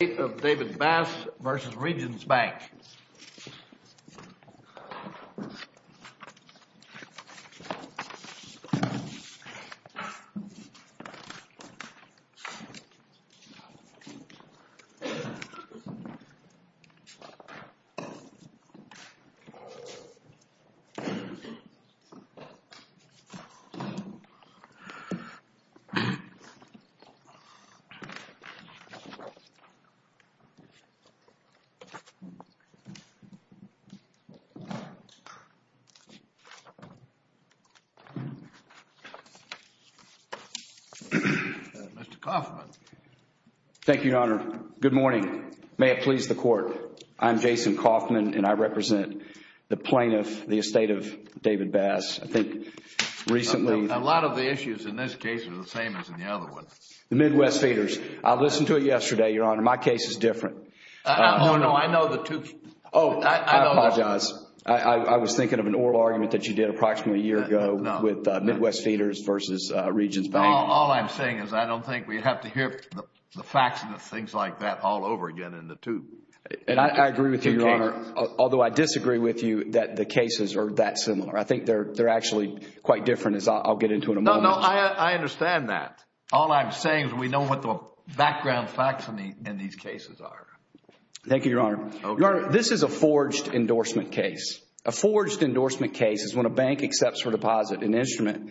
Estate of David Bass v. Regions Bank. Mr. Coffman. Thank you, Your Honor. Good morning. May it please the Court, I'm Jason Coffman and I represent the plaintiff, the Estate of David Bass. I think recently... A lot of the issues in this case are the same as in the other one. The Midwest Feeders. I listened to it yesterday, Your Honor. My case is different. Oh, no. I know the two... Oh, I apologize. I was thinking of an oral argument that you did approximately a year ago with Midwest Feeders v. Regions Bank. All I'm saying is I don't think we have to hear the facts and the things like that all over again in the two. And I agree with you, Your Honor, although I disagree with you that the cases are that similar. I think they're actually quite different as I'll get into in a moment. No, I understand that. All I'm saying is we know what the background facts in these cases are. Thank you, Your Honor. Your Honor, this is a forged endorsement case. A forged endorsement case is when a bank accepts for deposit an instrument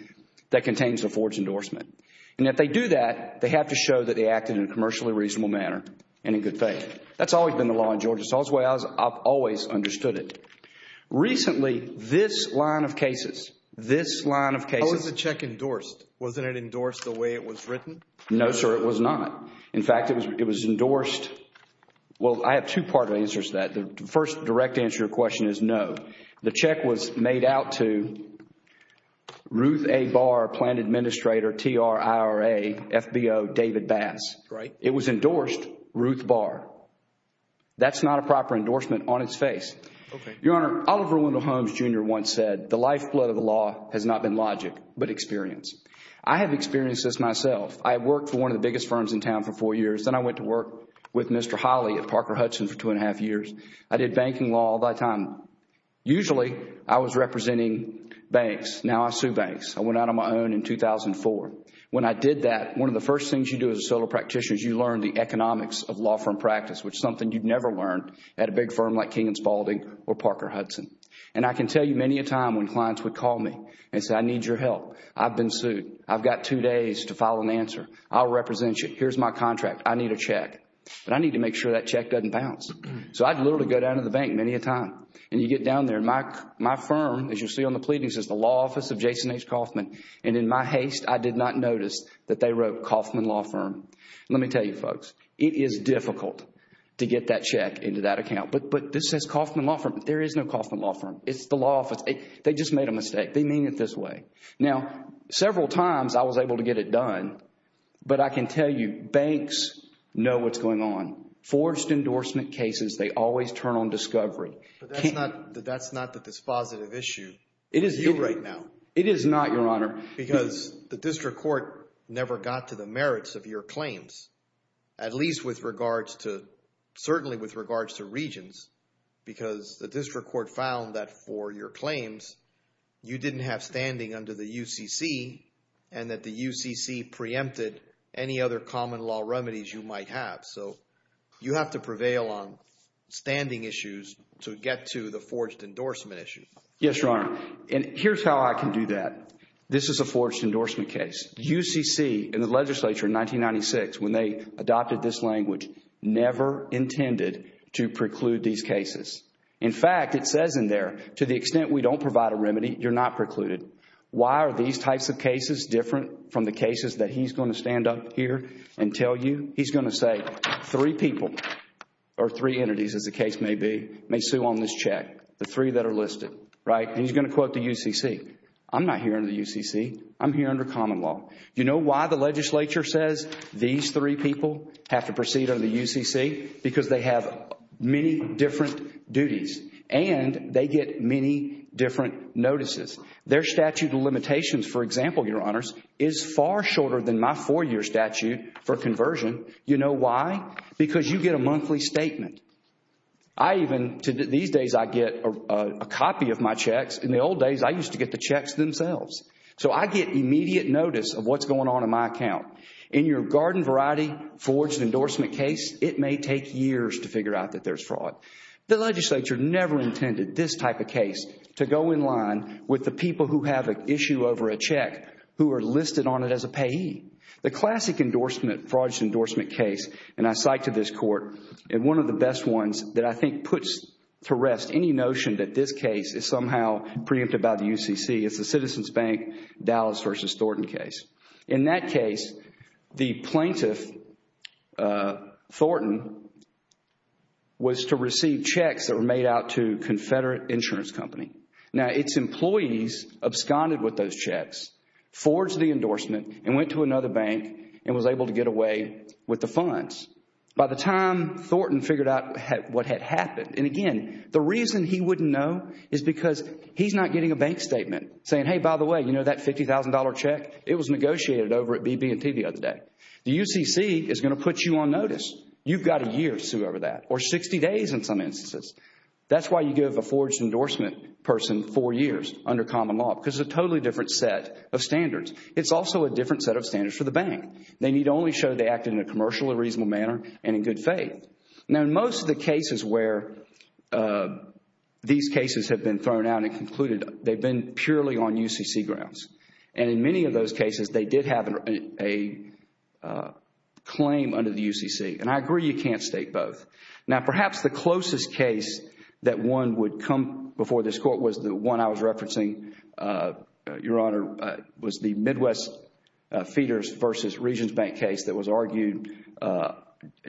that contains a forged endorsement. And if they do that, they have to show that they acted in a commercially reasonable manner and in good faith. That's always been the law in Georgia. It's always the way I've always understood it. Recently, this line of cases... Why was the check endorsed? Wasn't it endorsed the way it was written? No, sir, it was not. In fact, it was endorsed... well, I have two part answers to that. The first direct answer to your question is no. The check was made out to Ruth A. Barr, Planned Administrator, TRIRA, FBO, David Bass. Right. It was endorsed Ruth Barr. That's not a proper endorsement on its face. Okay. Your Honor, Oliver Wendell Holmes, Jr. once said, The lifeblood of the law has not been logic, but experience. I have experienced this myself. I worked for one of the biggest firms in town for four years. Then I went to work with Mr. Holley at Parker Hudson for two and a half years. I did banking law all that time. Usually, I was representing banks. Now, I sue banks. I went out on my own in 2004. When I did that, one of the first things you do as a solo practitioner is you learn the economics of law firm practice, which is something you've never learned at a big firm like King and Spalding or Parker Hudson. I can tell you many a time when clients would call me and say, I need your help. I've been sued. I've got two days to file an answer. I'll represent you. Here's my contract. I need a check. I need to make sure that check doesn't bounce. I'd literally go down to the bank many a time. You get down there. My firm, as you see on the pleadings, is the law office of Jason H. Kaufman. In my haste, I did not notice that they wrote Kaufman Law Firm. Let me tell you, folks. It is difficult. It is difficult to get that check into that account. But this says Kaufman Law Firm, but there is no Kaufman Law Firm. It's the law office. They just made a mistake. They mean it this way. Now, several times I was able to get it done, but I can tell you banks know what's going on. Forced endorsement cases, they always turn on discovery. But that's not the dispositive issue with you right now. It is not, Your Honor. Because the district court never got to the merits of your claims, at least with regards to certainly with regards to regions, because the district court found that for your claims you didn't have standing under the UCC and that the UCC preempted any other common law remedies you might have. So you have to prevail on standing issues to get to the forged endorsement issue. Yes, Your Honor. And here's how I can do that. This is a forged endorsement case. UCC in the legislature in 1996, when they adopted this language, never intended to preclude these cases. In fact, it says in there, to the extent we don't provide a remedy, you're not precluded. Why are these types of cases different from the cases that he's going to stand up here and tell you? He's going to say three people or three entities, as the case may be, may sue on this check, the three that are listed. Right? And he's going to quote the UCC. I'm not here under the UCC. I'm here under common law. You know why the legislature says these three people have to proceed under the UCC? Because they have many different duties and they get many different notices. Their statute of limitations, for example, Your Honors, is far shorter than my four-year statute for conversion. You know why? Because you get a monthly statement. I even, these days, I get a copy of my checks. In the old days, I used to get the checks themselves. So I get immediate notice of what's going on in my account. In your garden variety forged endorsement case, it may take years to figure out that there's fraud. The legislature never intended this type of case to go in line with the people who have an issue over a check who are listed on it as a payee. The classic fraud endorsement case, and I cite to this court, and one of the best ones that I think puts to rest any notion that this case is somehow preempted by the UCC, is the Citizens Bank Dallas versus Thornton case. In that case, the plaintiff, Thornton, was to receive checks that were made out to Confederate Insurance Company. Now, its employees absconded with those checks, forged the endorsement, and went to another bank and was able to get away with the funds. By the time Thornton figured out what had happened, and again, the reason he wouldn't know is because he's not getting a bank statement saying, hey, by the way, you know that $50,000 check? It was negotiated over at BB&T the other day. The UCC is going to put you on notice. You've got a year to sue over that or 60 days in some instances. That's why you give a forged endorsement person four years under common law because it's a totally different set of standards. It's also a different set of standards for the bank. They need only show they acted in a commercially reasonable manner and in good faith. Now, in most of the cases where these cases have been thrown out and concluded, they've been purely on UCC grounds. In many of those cases, they did have a claim under the UCC, and I agree you can't state both. Now, perhaps the closest case that one would come before this court was the one I was referencing, Your Honor, was the Midwest Feeders v. Regions Bank case that was argued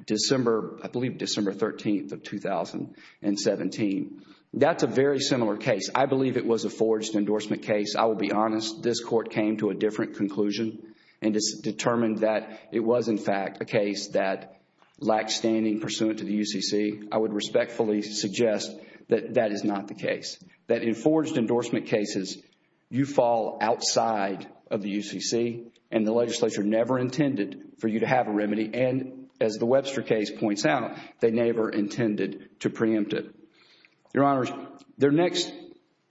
December, I believe December 13th of 2017. That's a very similar case. I believe it was a forged endorsement case. I will be honest. This court came to a different conclusion and determined that it was, in fact, a case that lacked standing pursuant to the UCC. I would respectfully suggest that that is not the case, that in forged endorsement cases, you fall outside of the UCC, and the legislature never intended for you to have a remedy, and as the Webster case points out, they never intended to preempt it. Your Honor, their next,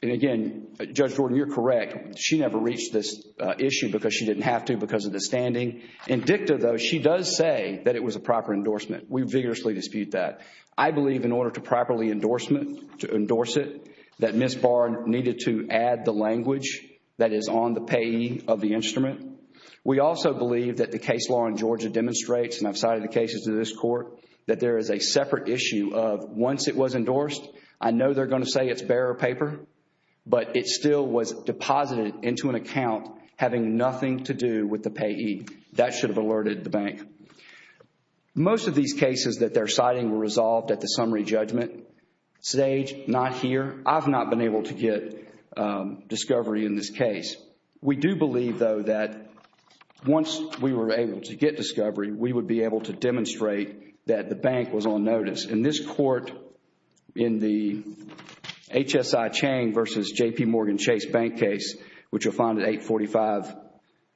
and again, Judge Jordan, you're correct. She never reached this issue because she didn't have to because of the standing. In dicta, though, she does say that it was a proper endorsement. We vigorously dispute that. I believe in order to properly endorsement, to endorse it, that Ms. Bard needed to add the language that is on the payee of the instrument. We also believe that the case law in Georgia demonstrates, and I've cited the cases in this court, that there is a separate issue of once it was endorsed, I know they're going to say it's bearer paper, but it still was deposited into an account having nothing to do with the payee. That should have alerted the bank. Most of these cases that they're citing were resolved at the summary judgment stage, not here. I've not been able to get discovery in this case. We do believe, though, that once we were able to get discovery, we would be able to demonstrate that the bank was on notice. In this court, in the HSI Chang versus JPMorgan Chase bank case, which you'll find at 845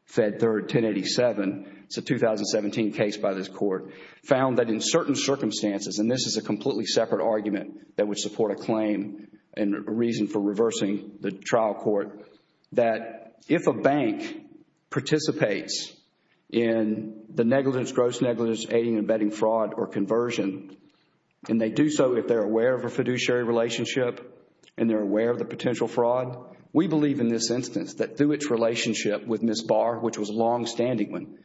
Fed 3, 1087, it's a 2017 case by this court, found that in certain circumstances, and this is a completely separate argument that would support a claim and a reason for reversing the trial court, that if a bank participates in the negligence, gross negligence, aiding and abetting fraud or conversion, and they do so if they're aware of a fiduciary relationship and they're aware of the potential fraud, we believe in this instance that through its relationship with Ms. Barr, which was a longstanding one,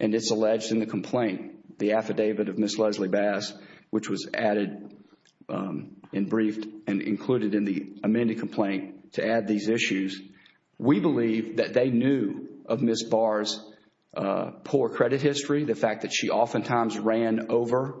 and it's alleged in the complaint, the affidavit of Ms. Leslie Bass, which was added and briefed and included in the amended complaint to add these issues, we believe that they knew of Ms. Barr's poor credit history, the fact that she oftentimes ran over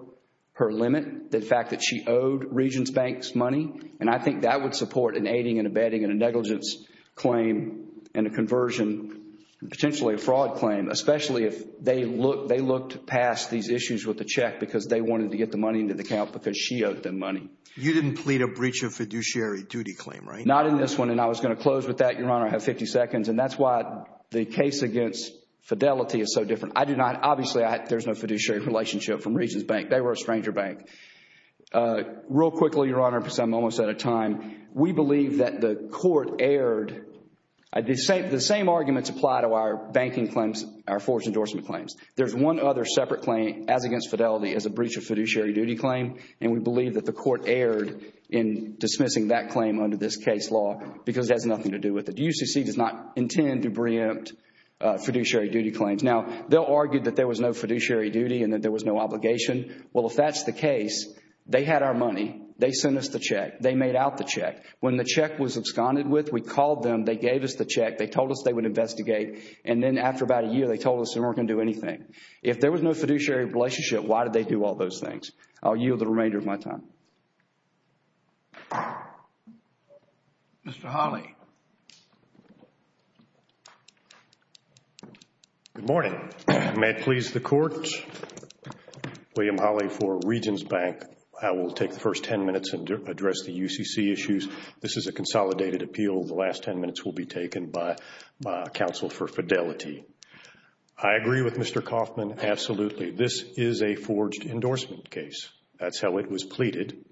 her limit, the fact that she owed Regents Bank's money, and I think that would support an aiding and abetting and a negligence claim and a conversion, potentially a fraud claim, especially if they looked past these issues with the check because they wanted to get the money into the account because she owed them money. You didn't plead a breach of fiduciary duty claim, right? Not in this one, and I was going to close with that, Your Honor. I have 50 seconds, and that's why the case against Fidelity is so different. Obviously, there's no fiduciary relationship from Regents Bank. They were a stranger bank. Real quickly, Your Honor, because I'm almost out of time, we believe that the court erred. The same arguments apply to our banking claims, our forged endorsement claims. There's one other separate claim, as against Fidelity, as a breach of fiduciary duty claim, and we believe that the court erred in dismissing that claim under this case law because it has nothing to do with it. UCC does not intend to preempt fiduciary duty claims. Now, they'll argue that there was no fiduciary duty and that there was no obligation. Well, if that's the case, they had our money. They sent us the check. They made out the check. When the check was absconded with, we called them. They gave us the check. They told us they would investigate, and then after about a year, they told us they weren't going to do anything. If there was no fiduciary relationship, why did they do all those things? I'll yield the remainder of my time. Mr. Hawley. Good morning. May it please the Court, William Hawley for Regions Bank. I will take the first 10 minutes and address the UCC issues. This is a consolidated appeal. The last 10 minutes will be taken by counsel for Fidelity. I agree with Mr. Kaufman, absolutely. This is a forged endorsement case. That's how it was pleaded.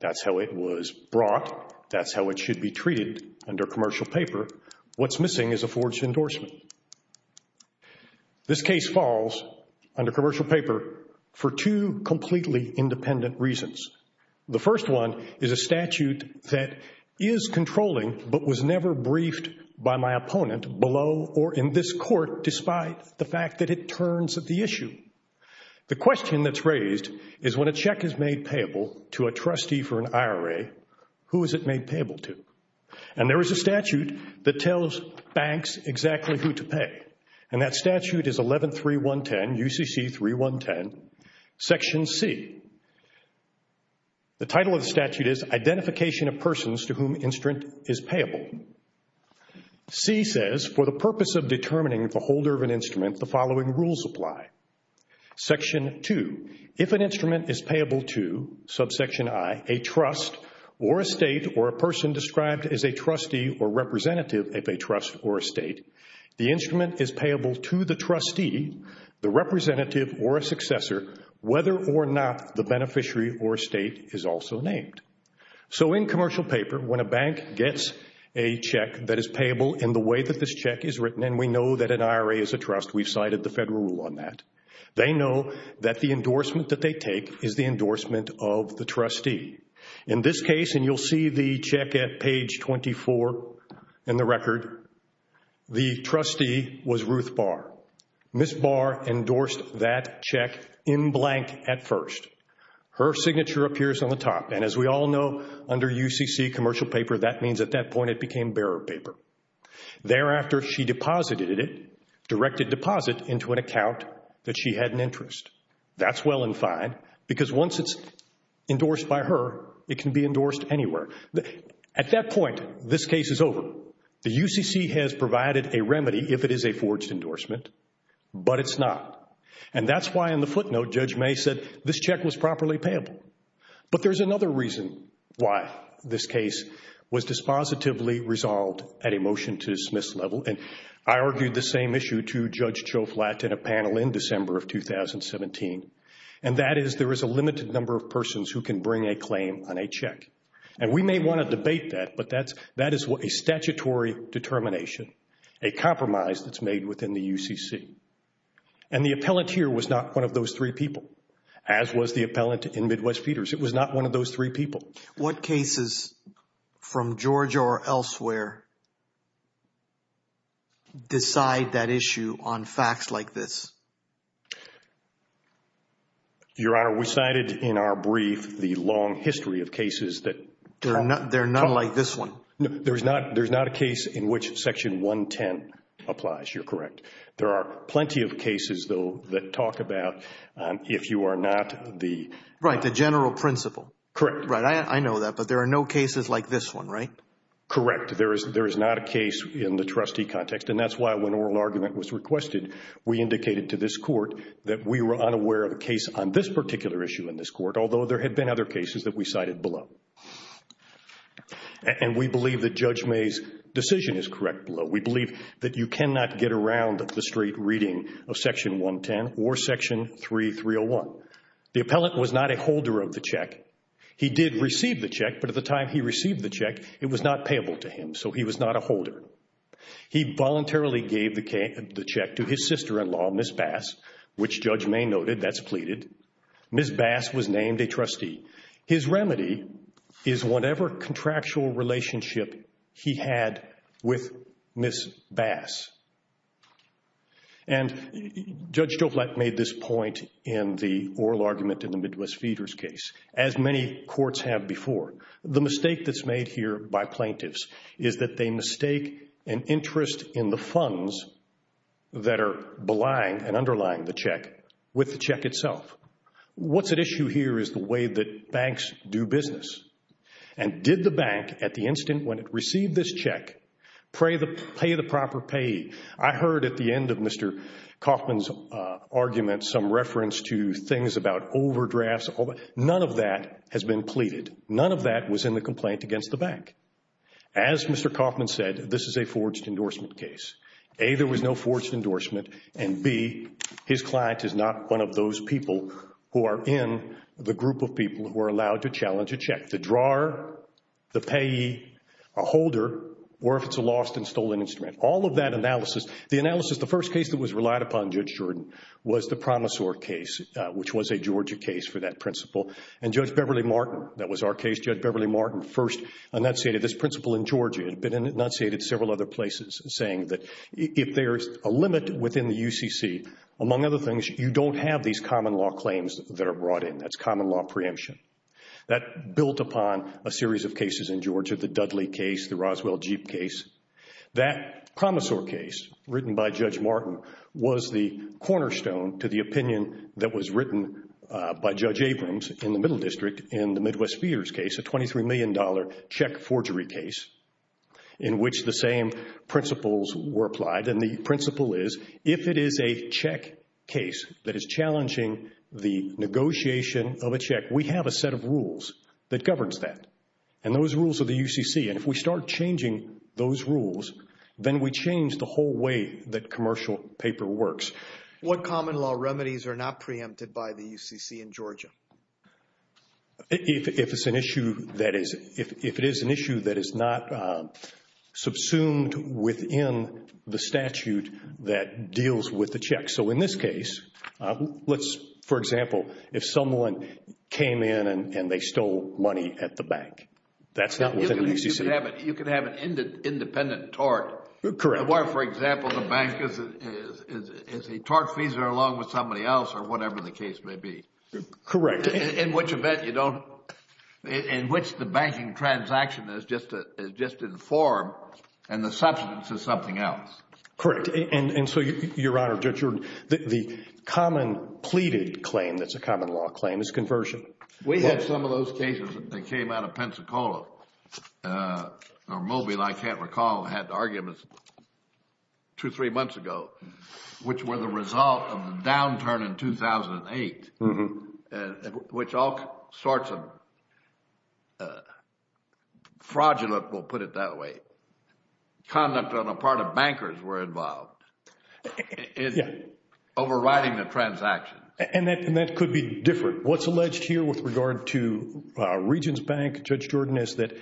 That's how it was brought. That's how it should be treated under commercial paper. What's missing is a forged endorsement. This case falls under commercial paper for two completely independent reasons. The first one is a statute that is controlling, but was never briefed by my opponent below or in this court, despite the fact that it turns the issue. The question that's raised is when a check is made payable to a trustee for an IRA, who is it made payable to? And there is a statute that tells banks exactly who to pay. And that statute is 11.3.1.10, UCC 3.1.10, Section C. The title of the statute is Identification of Persons to Whom Instrument is Payable. C says, For the purpose of determining the holder of an instrument, the following rules apply. Section 2. If an instrument is payable to, subsection I, a trust or a state or a person described as a trustee or representative of a trust or a state, the instrument is payable to the trustee, the representative or a successor, whether or not the beneficiary or state is also named. So in commercial paper, when a bank gets a check that is payable in the way that this check is written, and we know that an IRA is a trust, we've cited the federal rule on that, they know that the endorsement that they take is the endorsement of the trustee. In this case, and you'll see the check at page 24 in the record, the trustee was Ruth Barr. Ms. Barr endorsed that check in blank at first. Her signature appears on the top. And as we all know, under UCC commercial paper, that means at that point it became bearer paper. Thereafter, she deposited it, directed deposit into an account that she had an interest. That's well and fine because once it's endorsed by her, it can be endorsed anywhere. At that point, this case is over. The UCC has provided a remedy if it is a forged endorsement, but it's not. And that's why in the footnote, Judge May said this check was properly payable. But there's another reason why this case was dispositively resolved at a motion-to-dismiss level, and I argued the same issue to Judge Choflat in a panel in December of 2017, and that is there is a limited number of persons who can bring a claim on a check. And we may want to debate that, but that is a statutory determination, a compromise that's made within the UCC. And the appellant here was not one of those three people, as was the appellant in Midwest Peters. It was not one of those three people. What cases from Georgia or elsewhere decide that issue on facts like this? Your Honor, we cited in our brief the long history of cases that – They're not like this one. There's not a case in which Section 110 applies. You're correct. There are plenty of cases, though, that talk about if you are not the – Right, the general principle. Correct. Right, I know that, but there are no cases like this one, right? Correct. There is not a case in the trustee context, and that's why when an oral argument was requested, we indicated to this court that we were unaware of a case on this particular issue in this court, although there had been other cases that we cited below. And we believe that Judge May's decision is correct below. We believe that you cannot get around the straight reading of Section 110 or Section 3301. The appellant was not a holder of the check. He did receive the check, but at the time he received the check, it was not payable to him, so he was not a holder. He voluntarily gave the check to his sister-in-law, Ms. Bass, which Judge May noted. That's pleaded. Ms. Bass was named a trustee. His remedy is whatever contractual relationship he had with Ms. Bass. And Judge Stovallat made this point in the oral argument in the Midwest Feeders case, as many courts have before. The mistake that's made here by plaintiffs is that they mistake an interest in the funds that are belying and underlying the check with the check itself. What's at issue here is the way that banks do business. And did the bank, at the instant when it received this check, pay the proper payee? I heard at the end of Mr. Kaufman's argument some reference to things about overdrafts. None of that has been pleaded. None of that was in the complaint against the bank. As Mr. Kaufman said, this is a forged endorsement case. A, there was no forged endorsement, and B, his client is not one of those people who are in the group of people who are allowed to challenge a check. The drawer, the payee, a holder, or if it's a lost and stolen instrument. All of that analysis, the analysis, the first case that was relied upon, Judge Jordan, was the Promisor case, which was a Georgia case for that principle. And Judge Beverly Martin, that was our case. Judge Beverly Martin first enunciated this principle in Georgia. It had been enunciated in several other places, saying that if there is a limit within the UCC, among other things, you don't have these common law claims that are brought in. That's common law preemption. That built upon a series of cases in Georgia, the Dudley case, the Roswell Jeep case. That Promisor case, written by Judge Martin, was the cornerstone to the opinion that was written by Judge Abrams in the Middle District in the Midwest Spears case, a $23 million check forgery case, in which the same principles were applied. And the principle is, if it is a check case that is challenging the negotiation of a check, we have a set of rules that governs that. And those rules are the UCC. And if we start changing those rules, then we change the whole way that commercial paper works. What common law remedies are not preempted by the UCC in Georgia? If it is an issue that is not subsumed within the statute that deals with the check. So in this case, let's, for example, if someone came in and they stole money at the bank, that's not within the UCC. You can have an independent tort. Correct. Where, for example, the bank is a tortfeasor along with somebody else or whatever the case may be. Correct. In which event you don't, in which the banking transaction is just informed and the substance is something else. Correct. And so, Your Honor, the common pleaded claim that's a common law claim is conversion. We had some of those cases that came out of Pensacola or Mobile, I can't recall, had arguments two, three months ago, which were the result of the downturn in 2008, which all sorts of fraudulent, we'll put it that way, conduct on the part of bankers were involved in overriding the transaction. And that could be different. What's alleged here with regard to Regents Bank, Judge Jordan, is that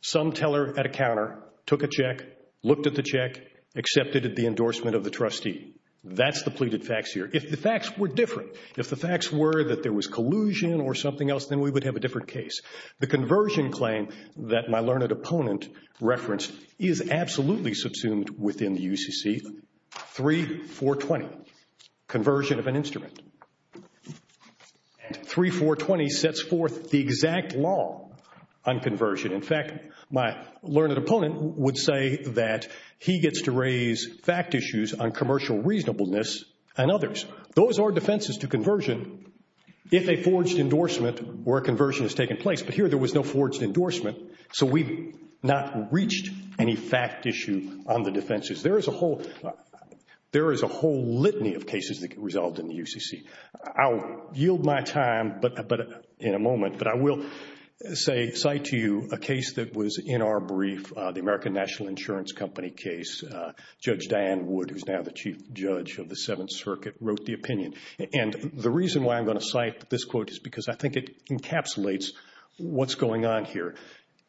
some teller at a counter took a check, looked at the check, accepted the endorsement of the trustee. That's the pleaded facts here. If the facts were different, if the facts were that there was collusion or something else, then we would have a different case. The conversion claim that my learned opponent referenced is absolutely subsumed within the UCC. 3-4-20, conversion of an instrument. And 3-4-20 sets forth the exact law on conversion. In fact, my learned opponent would say that he gets to raise fact issues on commercial reasonableness and others. Those are defenses to conversion if a forged endorsement where a conversion has taken place. But here there was no forged endorsement, so we've not reached any fact issue on the defenses. There is a whole litany of cases that get resolved in the UCC. I'll yield my time in a moment, but I will say, cite to you a case that was in our brief, the American National Insurance Company case. Judge Diane Wood, who's now the Chief Judge of the Seventh Circuit, wrote the opinion. And the reason why I'm going to cite this quote is because I think it encapsulates what's going on here.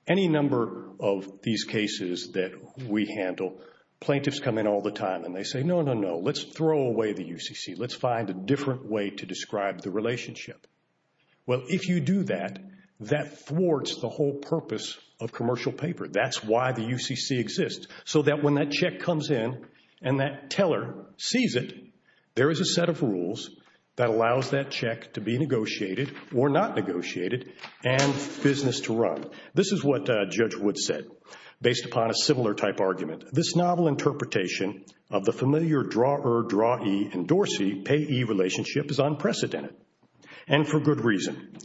Any number of these cases that we handle, plaintiffs come in all the time and they say, no, no, no, let's throw away the UCC. Let's find a different way to describe the relationship. Well, if you do that, that thwarts the whole purpose of commercial paper. That's why the UCC exists, so that when that check comes in and that teller sees it, there is a set of rules that allows that check to be negotiated or not negotiated and business to run. This is what Judge Wood said, based upon a similar type argument. This novel interpretation of the familiar draw-er, draw-ee, endorse-ee, pay-ee relationship is unprecedented, and for good reason.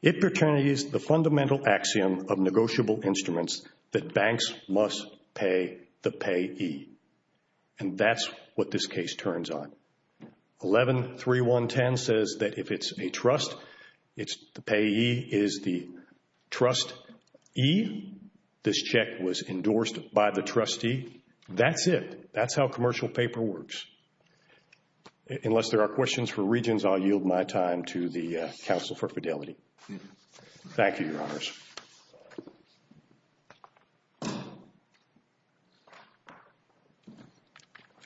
It pertains to the fundamental axiom of negotiable instruments that banks must pay the pay-ee. And that's what this case turns on. 113110 says that if it's a trust, the pay-ee is the trustee. This check was endorsed by the trustee. That's it. That's how commercial paper works. Unless there are questions from Regents, I'll yield my time to the Council for Fidelity. Thank you, Your Honors.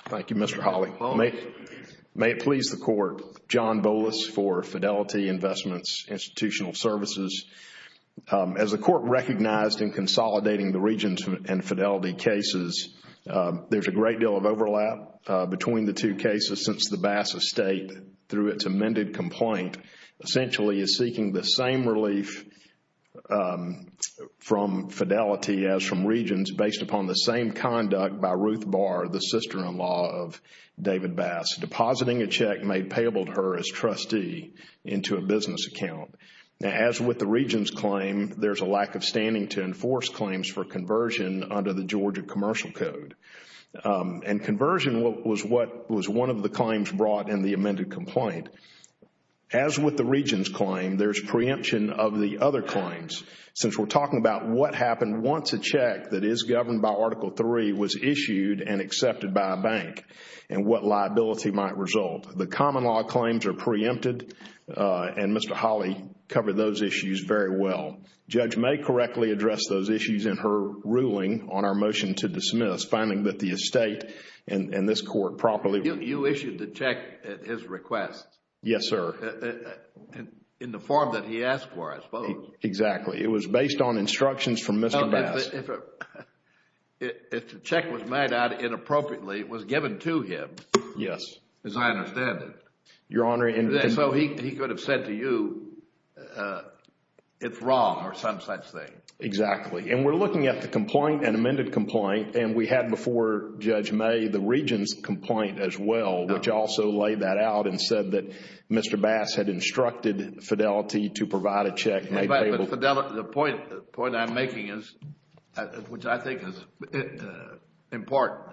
Thank you, Mr. Hawley. May it please the Court. John Bolus for Fidelity Investments Institutional Services. As the Court recognized in consolidating the Regents and Fidelity cases, there's a great deal of overlap between the two cases since the Bass Estate, through its amended complaint, essentially is seeking the same relief from Fidelity as from Regents based upon the same conduct by Ruth Barr, the sister-in-law of David Bass, depositing a check made payable to her as trustee into a business account. Now, as with the Regents' claim, there's a lack of standing to enforce claims for conversion under the Georgia Commercial Code. And conversion was one of the claims brought in the amended complaint. As with the Regents' claim, there's preemption of the other claims. Since we're talking about what happened once a check that is governed by Article III was issued and accepted by a bank and what liability might result, the common law claims are preempted and Mr. Hawley covered those issues very well. Judge May correctly addressed those issues in her ruling on our motion to dismiss, finding that the estate and this Court properly... You issued the check at his request. Yes, sir. In the form that he asked for, I suppose. Exactly. It was based on instructions from Mr. Bass. If the check was made out inappropriately, it was given to him. Yes. As I understand it. Your Honor... So he could have said to you, it's wrong or some such thing. Exactly. And we're looking at the complaint, an amended complaint, and we had before Judge May the Regents' complaint as well, The point I'm making is, which I think is important,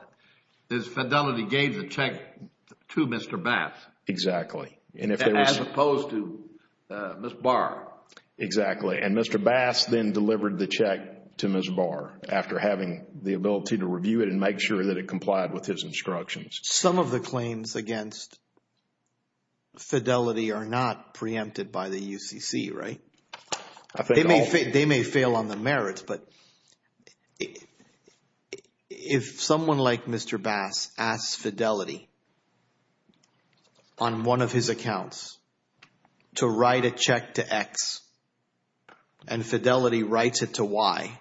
is Fidelity gave the check to Mr. Bass... Exactly.... as opposed to Ms. Barr. Exactly. And Mr. Bass then delivered the check to Ms. Barr after having the ability to review it and make sure that it complied with his instructions. Some of the claims against Fidelity are not preempted by the UCC, right? They may fail on the merits, but if someone like Mr. Bass asks Fidelity on one of his accounts to write a check to X and Fidelity writes it to Y,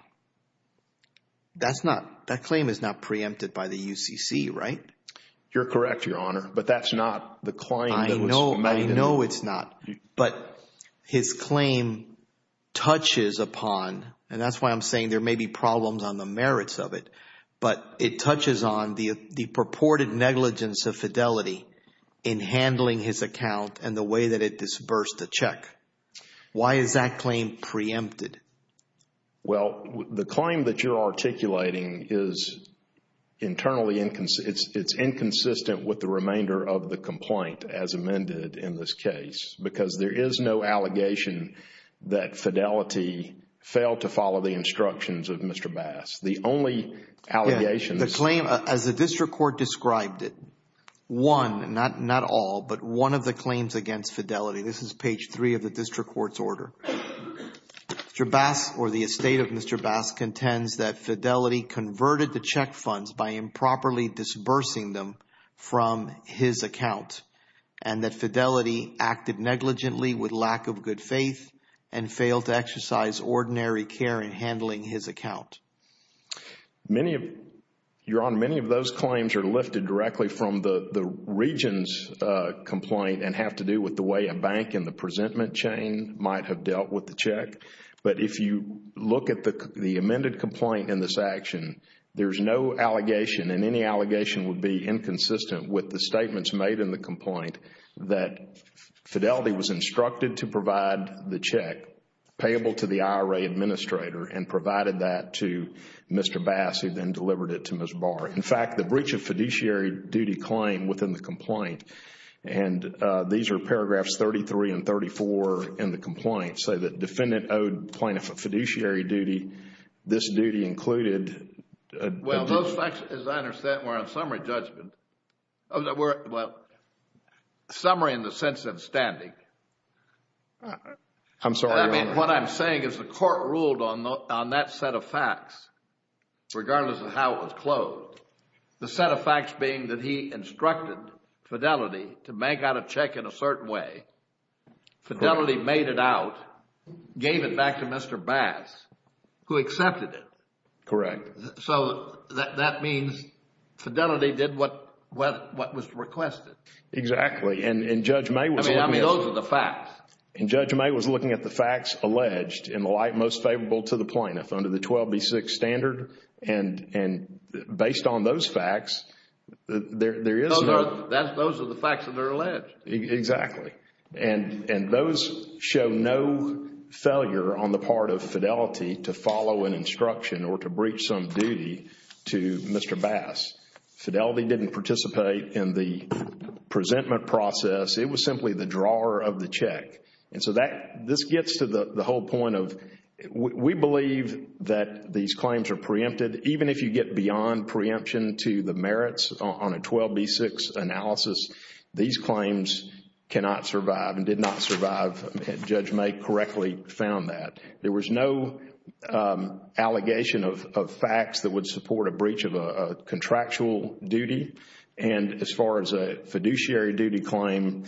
that claim is not preempted by the UCC, right? You're correct, Your Honor, but that's not the claim that was made. I know it's not, but his claim touches upon, and that's why I'm saying there may be problems on the merits of it, but it touches on the purported negligence of Fidelity in handling his account and the way that it disbursed the check. Why is that claim preempted? Well, the claim that you're articulating is internally inconsistent. It's inconsistent with the remainder of the complaint as amended in this case because there is no allegation that Fidelity failed to follow the instructions of Mr. Bass. The only allegation is... The claim, as the district court described it, one, not all, but one of the claims against Fidelity. This is page three of the district court's order. Mr. Bass or the estate of Mr. Bass contends that Fidelity converted the check funds by improperly disbursing them from his account and that Fidelity acted negligently with lack of good faith and failed to exercise ordinary care in handling his account. Your Honor, many of those claims are lifted directly from the region's complaint and have to do with the way a bank in the presentment chain might have dealt with the check. But if you look at the amended complaint in this action, there's no allegation and any allegation would be inconsistent with the statements made in the complaint that Fidelity was instructed to provide the check payable to the IRA administrator and provided that to Mr. Bass who then delivered it to Ms. Barr. In fact, the breach of fiduciary duty claim within the complaint and these are paragraphs 33 and 34 in the complaint say that defendant owed plaintiff a fiduciary duty. This duty included Well, those facts, as I understand, were on summary judgment. Well, summary in the sense of standing. I'm sorry, Your Honor. I mean, what I'm saying is the court ruled on that set of facts regardless of how it was closed. The set of facts being that he instructed Fidelity to bank out a check in a certain way. Fidelity made it out, gave it back to Mr. Bass who accepted it. Correct. So that means Fidelity did what was requested. Exactly. And Judge May was looking at I mean, those are the facts. And Judge May was looking at the facts alleged in the light most favorable to the plaintiff under the 12B6 standard. And based on those facts, there is no Those are the facts that are alleged. Exactly. And those show no failure on the part of Fidelity to follow an instruction or to breach some duty to Mr. Bass. Fidelity didn't participate in the presentment process. It was simply the drawer of the check. And so this gets to the whole point of we believe that these claims are preempted. Even if you get beyond preemption to the merits on a 12B6 analysis, these claims cannot survive and did not survive. Judge May correctly found that. There was no allegation of facts that would support a breach of a contractual duty. And as far as a fiduciary duty claim,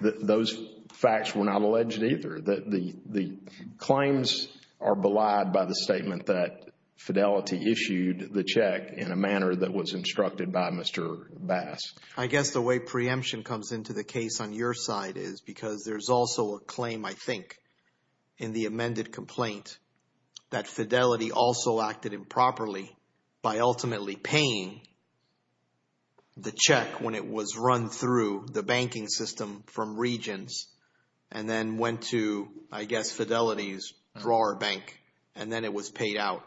those facts were not alleged either. The claims are belied by the statement that Fidelity issued the check in a manner that was instructed by Mr. Bass. I guess the way preemption comes into the case on your side is because there's also a claim, I think, in the amended complaint that Fidelity also acted improperly by ultimately paying the check when it was run through the banking system from Regions and then went to, I guess, Fidelity's drawer bank and then it was paid out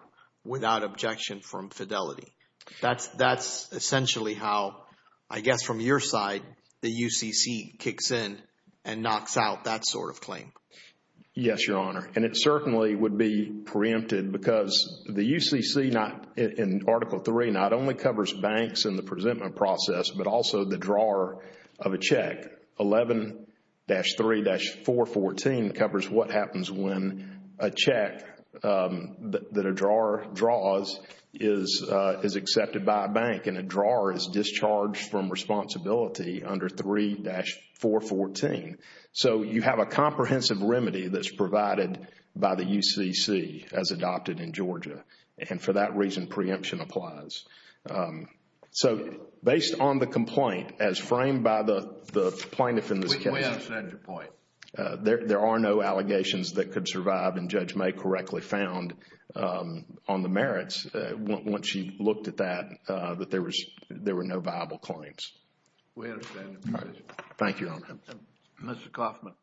without objection from Fidelity. That's essentially how, I guess, from your side, the UCC kicks in and knocks out that sort of claim. Yes, Your Honor. And it certainly would be preempted because the UCC in Article 3 not only covers banks in the presentment process, but also the drawer of a check. 11-3-414 covers what happens when a check that a drawer draws is accepted by a bank and a drawer is discharged from responsibility under 3-414. So you have a comprehensive remedy that's provided by the UCC as adopted in Georgia. And for that reason, preemption applies. So based on the complaint, as framed by the plaintiff in this case, We understand your point. there are no allegations that could survive, and Judge May correctly found on the merits, once you looked at that, that there were no viable claims. We understand your point. Thank you, Your Honor. Mr. Coffman.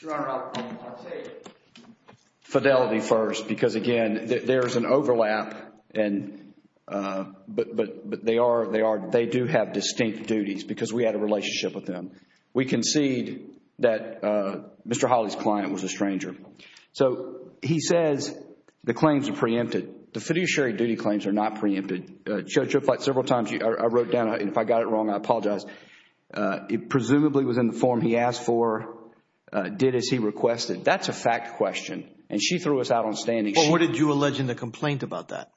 Your Honor, I'll take Fidelity first because, again, there is an overlap, but they do have distinct duties because we had a relationship with them. We concede that Mr. Hawley's client was a stranger. So he says the claims are preempted. The fiduciary duty claims are not preempted. And, Judge, several times I wrote down, and if I got it wrong, I apologize. It presumably was in the form he asked for, did as he requested. That's a fact question, and she threw us out on standing. But what did you allege in the complaint about that?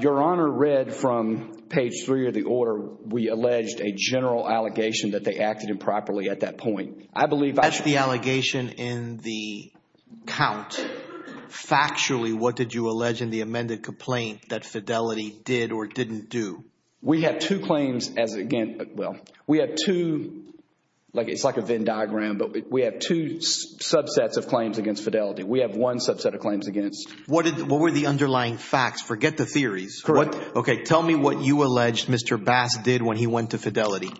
Your Honor read from page three of the order, we alleged a general allegation that they acted improperly at that point. I believe I should be. As the allegation in the count, factually, what did you allege in the amended complaint that Fidelity did or didn't do? We have two claims as, again, well, we have two, like it's like a Venn diagram, but we have two subsets of claims against Fidelity. We have one subset of claims against. What were the underlying facts? Forget the theories. Correct. Okay, tell me what you allege Mr. Bass did when he went to Fidelity.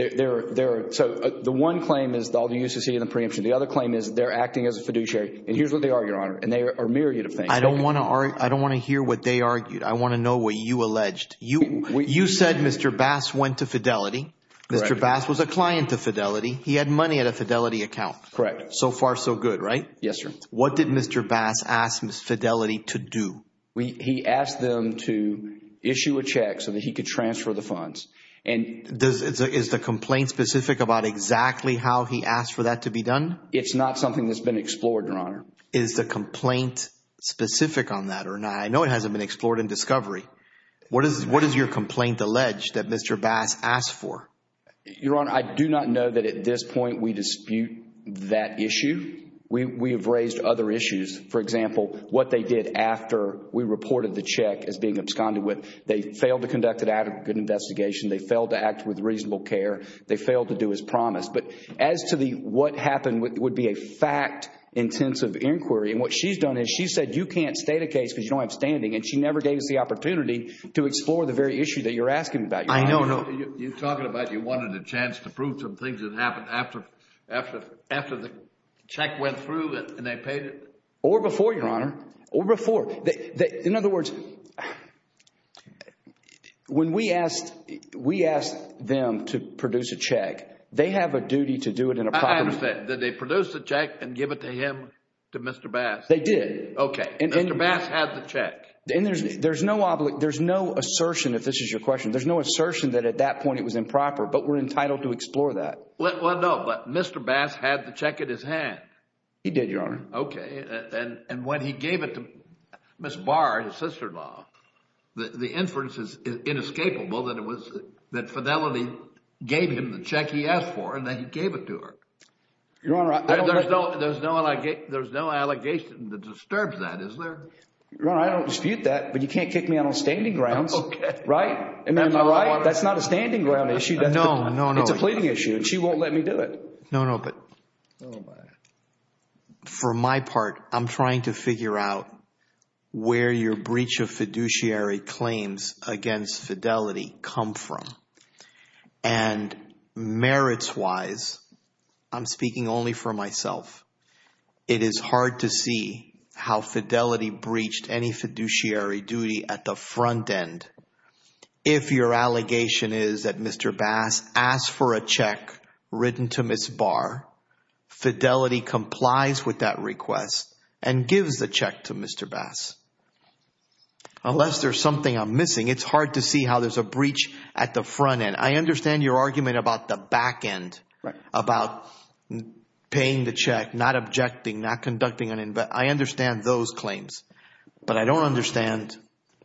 So the one claim is all you used to see in the preemption. The other claim is they're acting as a fiduciary, and here's what they are, Your Honor, and they are a myriad of things. I don't want to hear what they argued. I want to know what you alleged. You said Mr. Bass went to Fidelity. Mr. Bass was a client to Fidelity. He had money at a Fidelity account. Correct. So far so good, right? Yes, sir. What did Mr. Bass ask Ms. Fidelity to do? He asked them to issue a check so that he could transfer the funds. And is the complaint specific about exactly how he asked for that to be done? It's not something that's been explored, Your Honor. Is the complaint specific on that or not? I know it hasn't been explored in discovery. What is your complaint alleged that Mr. Bass asked for? Your Honor, I do not know that at this point we dispute that issue. We have raised other issues. For example, what they did after we reported the check as being absconded with. They failed to conduct it out of good investigation. They failed to act with reasonable care. They failed to do as promised. But as to what happened would be a fact-intensive inquiry. And what she's done is she said you can't state a case because you don't have standing. And she never gave us the opportunity to explore the very issue that you're asking about. I know. You're talking about you wanted a chance to prove some things that happened after the check went through and they paid it. Or before, Your Honor. Or before. In other words, when we asked them to produce a check, they have a duty to do it in a proper way. I understand. Did they produce the check and give it to him, to Mr. Bass? They did. Okay. Mr. Bass had the check. There's no assertion, if this is your question, there's no assertion that at that point it was improper. But we're entitled to explore that. Well, no. But Mr. Bass had the check in his hand. He did, Your Honor. Okay. And when he gave it to Ms. Barr, his sister-in-law, the inference is inescapable that it was, that Fidelity gave him the check he asked for and then he gave it to her. Your Honor. There's no allegation that disturbs that, is there? Your Honor, I don't dispute that, but you can't kick me out on standing grounds. Okay. Right? Am I right? That's not a standing ground issue. No, no, no. It's a pleading issue and she won't let me do it. No, no, but for my part, I'm trying to figure out where your breach of fiduciary claims against Fidelity come from. And merits wise, I'm speaking only for myself, it is hard to see how Fidelity breached any fiduciary duty at the front end. If your allegation is that Mr. Bass asked for a check written to Ms. Barr, Fidelity complies with that request and gives the check to Mr. Bass. Unless there's something I'm missing, it's hard to see how there's a breach at the front end. I understand your argument about the back end. Right. About paying the check, not objecting, not conducting an investigation. I understand those claims, but I don't understand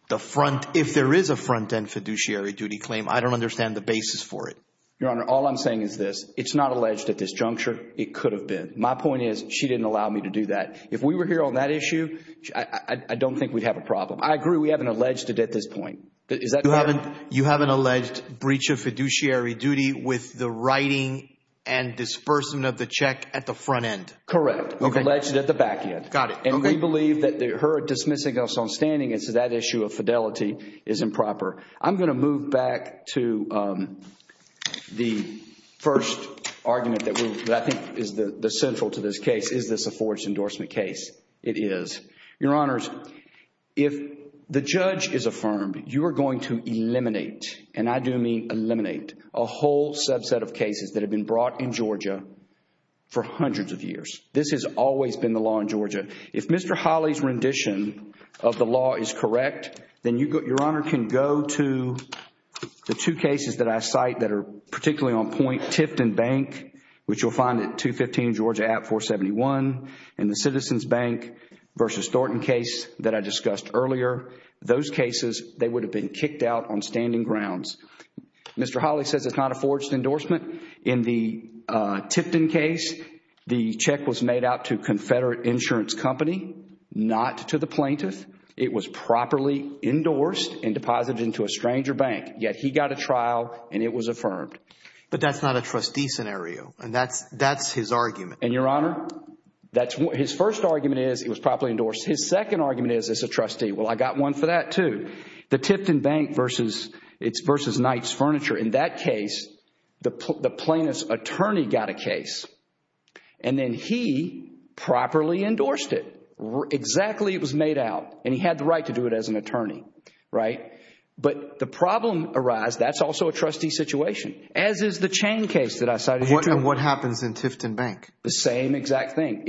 the front, if there is a front end fiduciary duty claim, I don't understand the basis for it. Your Honor, all I'm saying is this. It's not alleged at this juncture. It could have been. My point is she didn't allow me to do that. If we were here on that issue, I don't think we'd have a problem. I agree we haven't alleged it at this point. You haven't alleged breach of fiduciary duty with the writing and disbursement of the check at the front end. Correct. We've alleged it at the back end. Got it. And we believe that her dismissing us on standing as to that issue of Fidelity is improper. I'm going to move back to the first argument that I think is the central to this case. Is this a forged endorsement case? It is. Your Honors, if the judge is affirmed, you are going to eliminate, and I do mean eliminate, a whole subset of cases that have been brought in Georgia for hundreds of years. This has always been the law in Georgia. If Mr. Hawley's rendition of the law is correct, then your Honor can go to the two cases that I cite that are particularly on point, Tifton Bank, which you'll find at 215 Georgia App 471, and the Citizens Bank v. Thornton case that I discussed earlier. Those cases, they would have been kicked out on standing grounds. Mr. Hawley says it's not a forged endorsement. In the Tipton case, the check was made out to Confederate Insurance Company, not to the plaintiff. It was properly endorsed and deposited into a stranger bank, yet he got a trial and it was affirmed. But that's not a trustee scenario, and that's his argument. And your Honor, his first argument is it was properly endorsed. His second argument is it's a trustee. Well, I got one for that too. The Tipton Bank v. Knight's Furniture, in that case, the plaintiff's attorney got a case, and then he properly endorsed it. Exactly, it was made out, and he had the right to do it as an attorney. But the problem arises, that's also a trustee situation, as is the Chain case that I cited. And what happens in Tipton Bank? The same exact thing.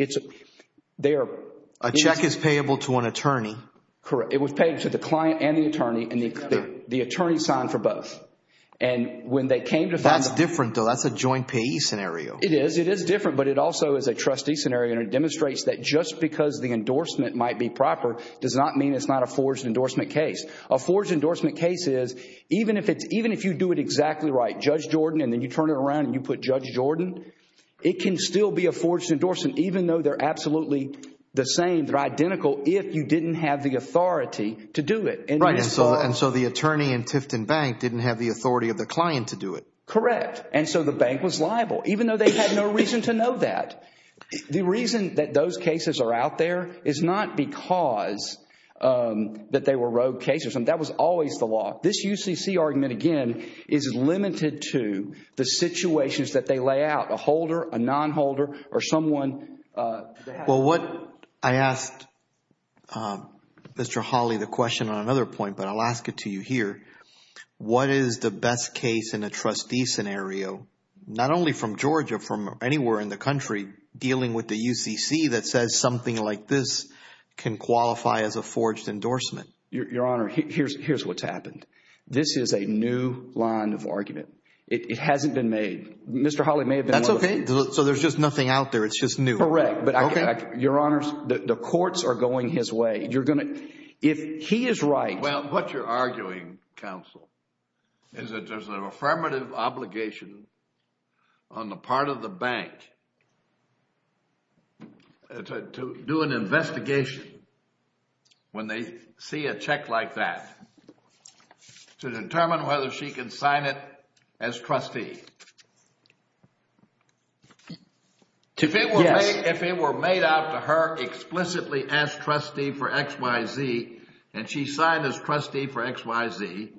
A check is payable to an attorney. Correct. It was paid to the client and the attorney, and the attorney signed for both. That's different, though. That's a joint payee scenario. It is. It is different, but it also is a trustee scenario, and it demonstrates that just because the endorsement might be proper does not mean it's not a forged endorsement case. A forged endorsement case is, even if you do it exactly right, Judge Jordan, and then you turn it around and you put Judge Jordan, it can still be a forged endorsement, even though they're absolutely the same, they're identical, if you didn't have the authority to do it. Right, and so the attorney in Tipton Bank didn't have the authority of the client to do it. Correct, and so the bank was liable, even though they had no reason to know that. The reason that those cases are out there is not because that they were rogue cases. That was always the law. This UCC argument, again, is limited to the situations that they lay out, a holder, a non-holder, or someone. Well, I asked Mr. Hawley the question on another point, but I'll ask it to you here. What is the best case in a trustee scenario, not only from Georgia, from anywhere in the country dealing with the UCC that says something like this can qualify as a forged endorsement? Your Honor, here's what's happened. This is a new line of argument. It hasn't been made. Mr. Hawley may have been willing. That's okay. So there's just nothing out there. It's just new. Correct, but Your Honor, the courts are going his way. You're going to, if he is right. Well, what you're arguing, counsel, is that there's an affirmative obligation on the part of the bank to do an investigation when they see a check like that, to determine whether she can sign it as trustee. If it were made out to her explicitly as trustee for XYZ, and she signed as trustee for XYZ,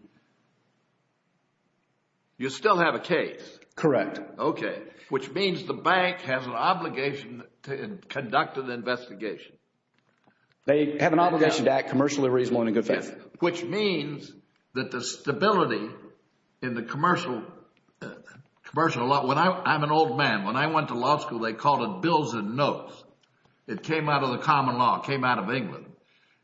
you still have a case. Correct. Okay. Which means the bank has an obligation to conduct an investigation. They have an obligation to act commercially reasonably and in a good fashion. Which means that the stability in the commercial, I'm an old man. When I went to law school, they called it bills and notes. It came out of the common law. It came out of England.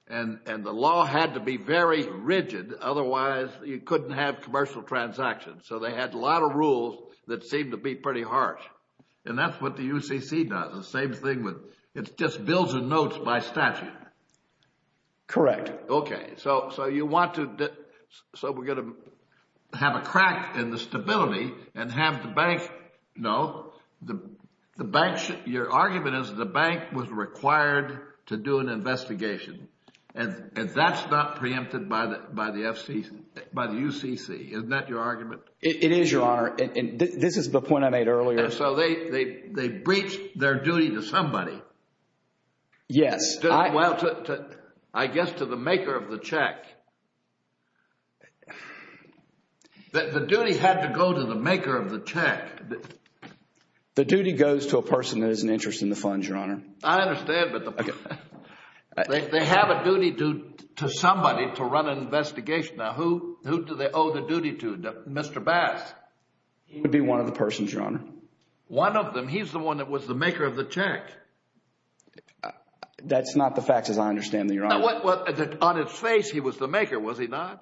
And the law had to be very rigid. Otherwise, you couldn't have commercial transactions. So they had a lot of rules that seemed to be pretty harsh. And that's what the UCC does. The same thing with, it's just bills and notes by statute. Correct. Okay. So you want to, so we're going to have a crack in the stability and have the bank, no. Your argument is the bank was required to do an investigation. And that's not preempted by the UCC. Isn't that your argument? It is, Your Honor. And this is the point I made earlier. So they breach their duty to somebody. Yes. Well, I guess to the maker of the check. The duty had to go to the maker of the check. The duty goes to a person that is an interest in the funds, Your Honor. I understand. But they have a duty to somebody to run an investigation. Now, who do they owe the duty to? Mr. Bass? It would be one of the persons, Your Honor. One of them? He's the one that was the maker of the check. That's not the fact as I understand it, Your Honor. On his face, he was the maker. Was he not?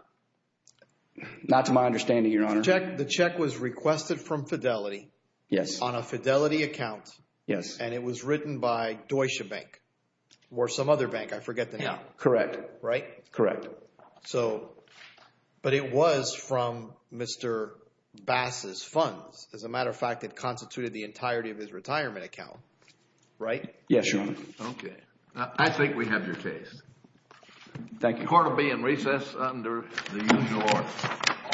Not to my understanding, Your Honor. The check was requested from Fidelity. Yes. On a Fidelity account. Yes. And it was written by Deutsche Bank or some other bank. I forget the name. Correct. Right? Correct. So, but it was from Mr. Bass' funds. As a matter of fact, it constituted the entirety of his retirement account, right? Yes, Your Honor. Okay. I think we have your case. Thank you. Court will be in recess under the usual order.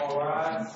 All rise. Thank you.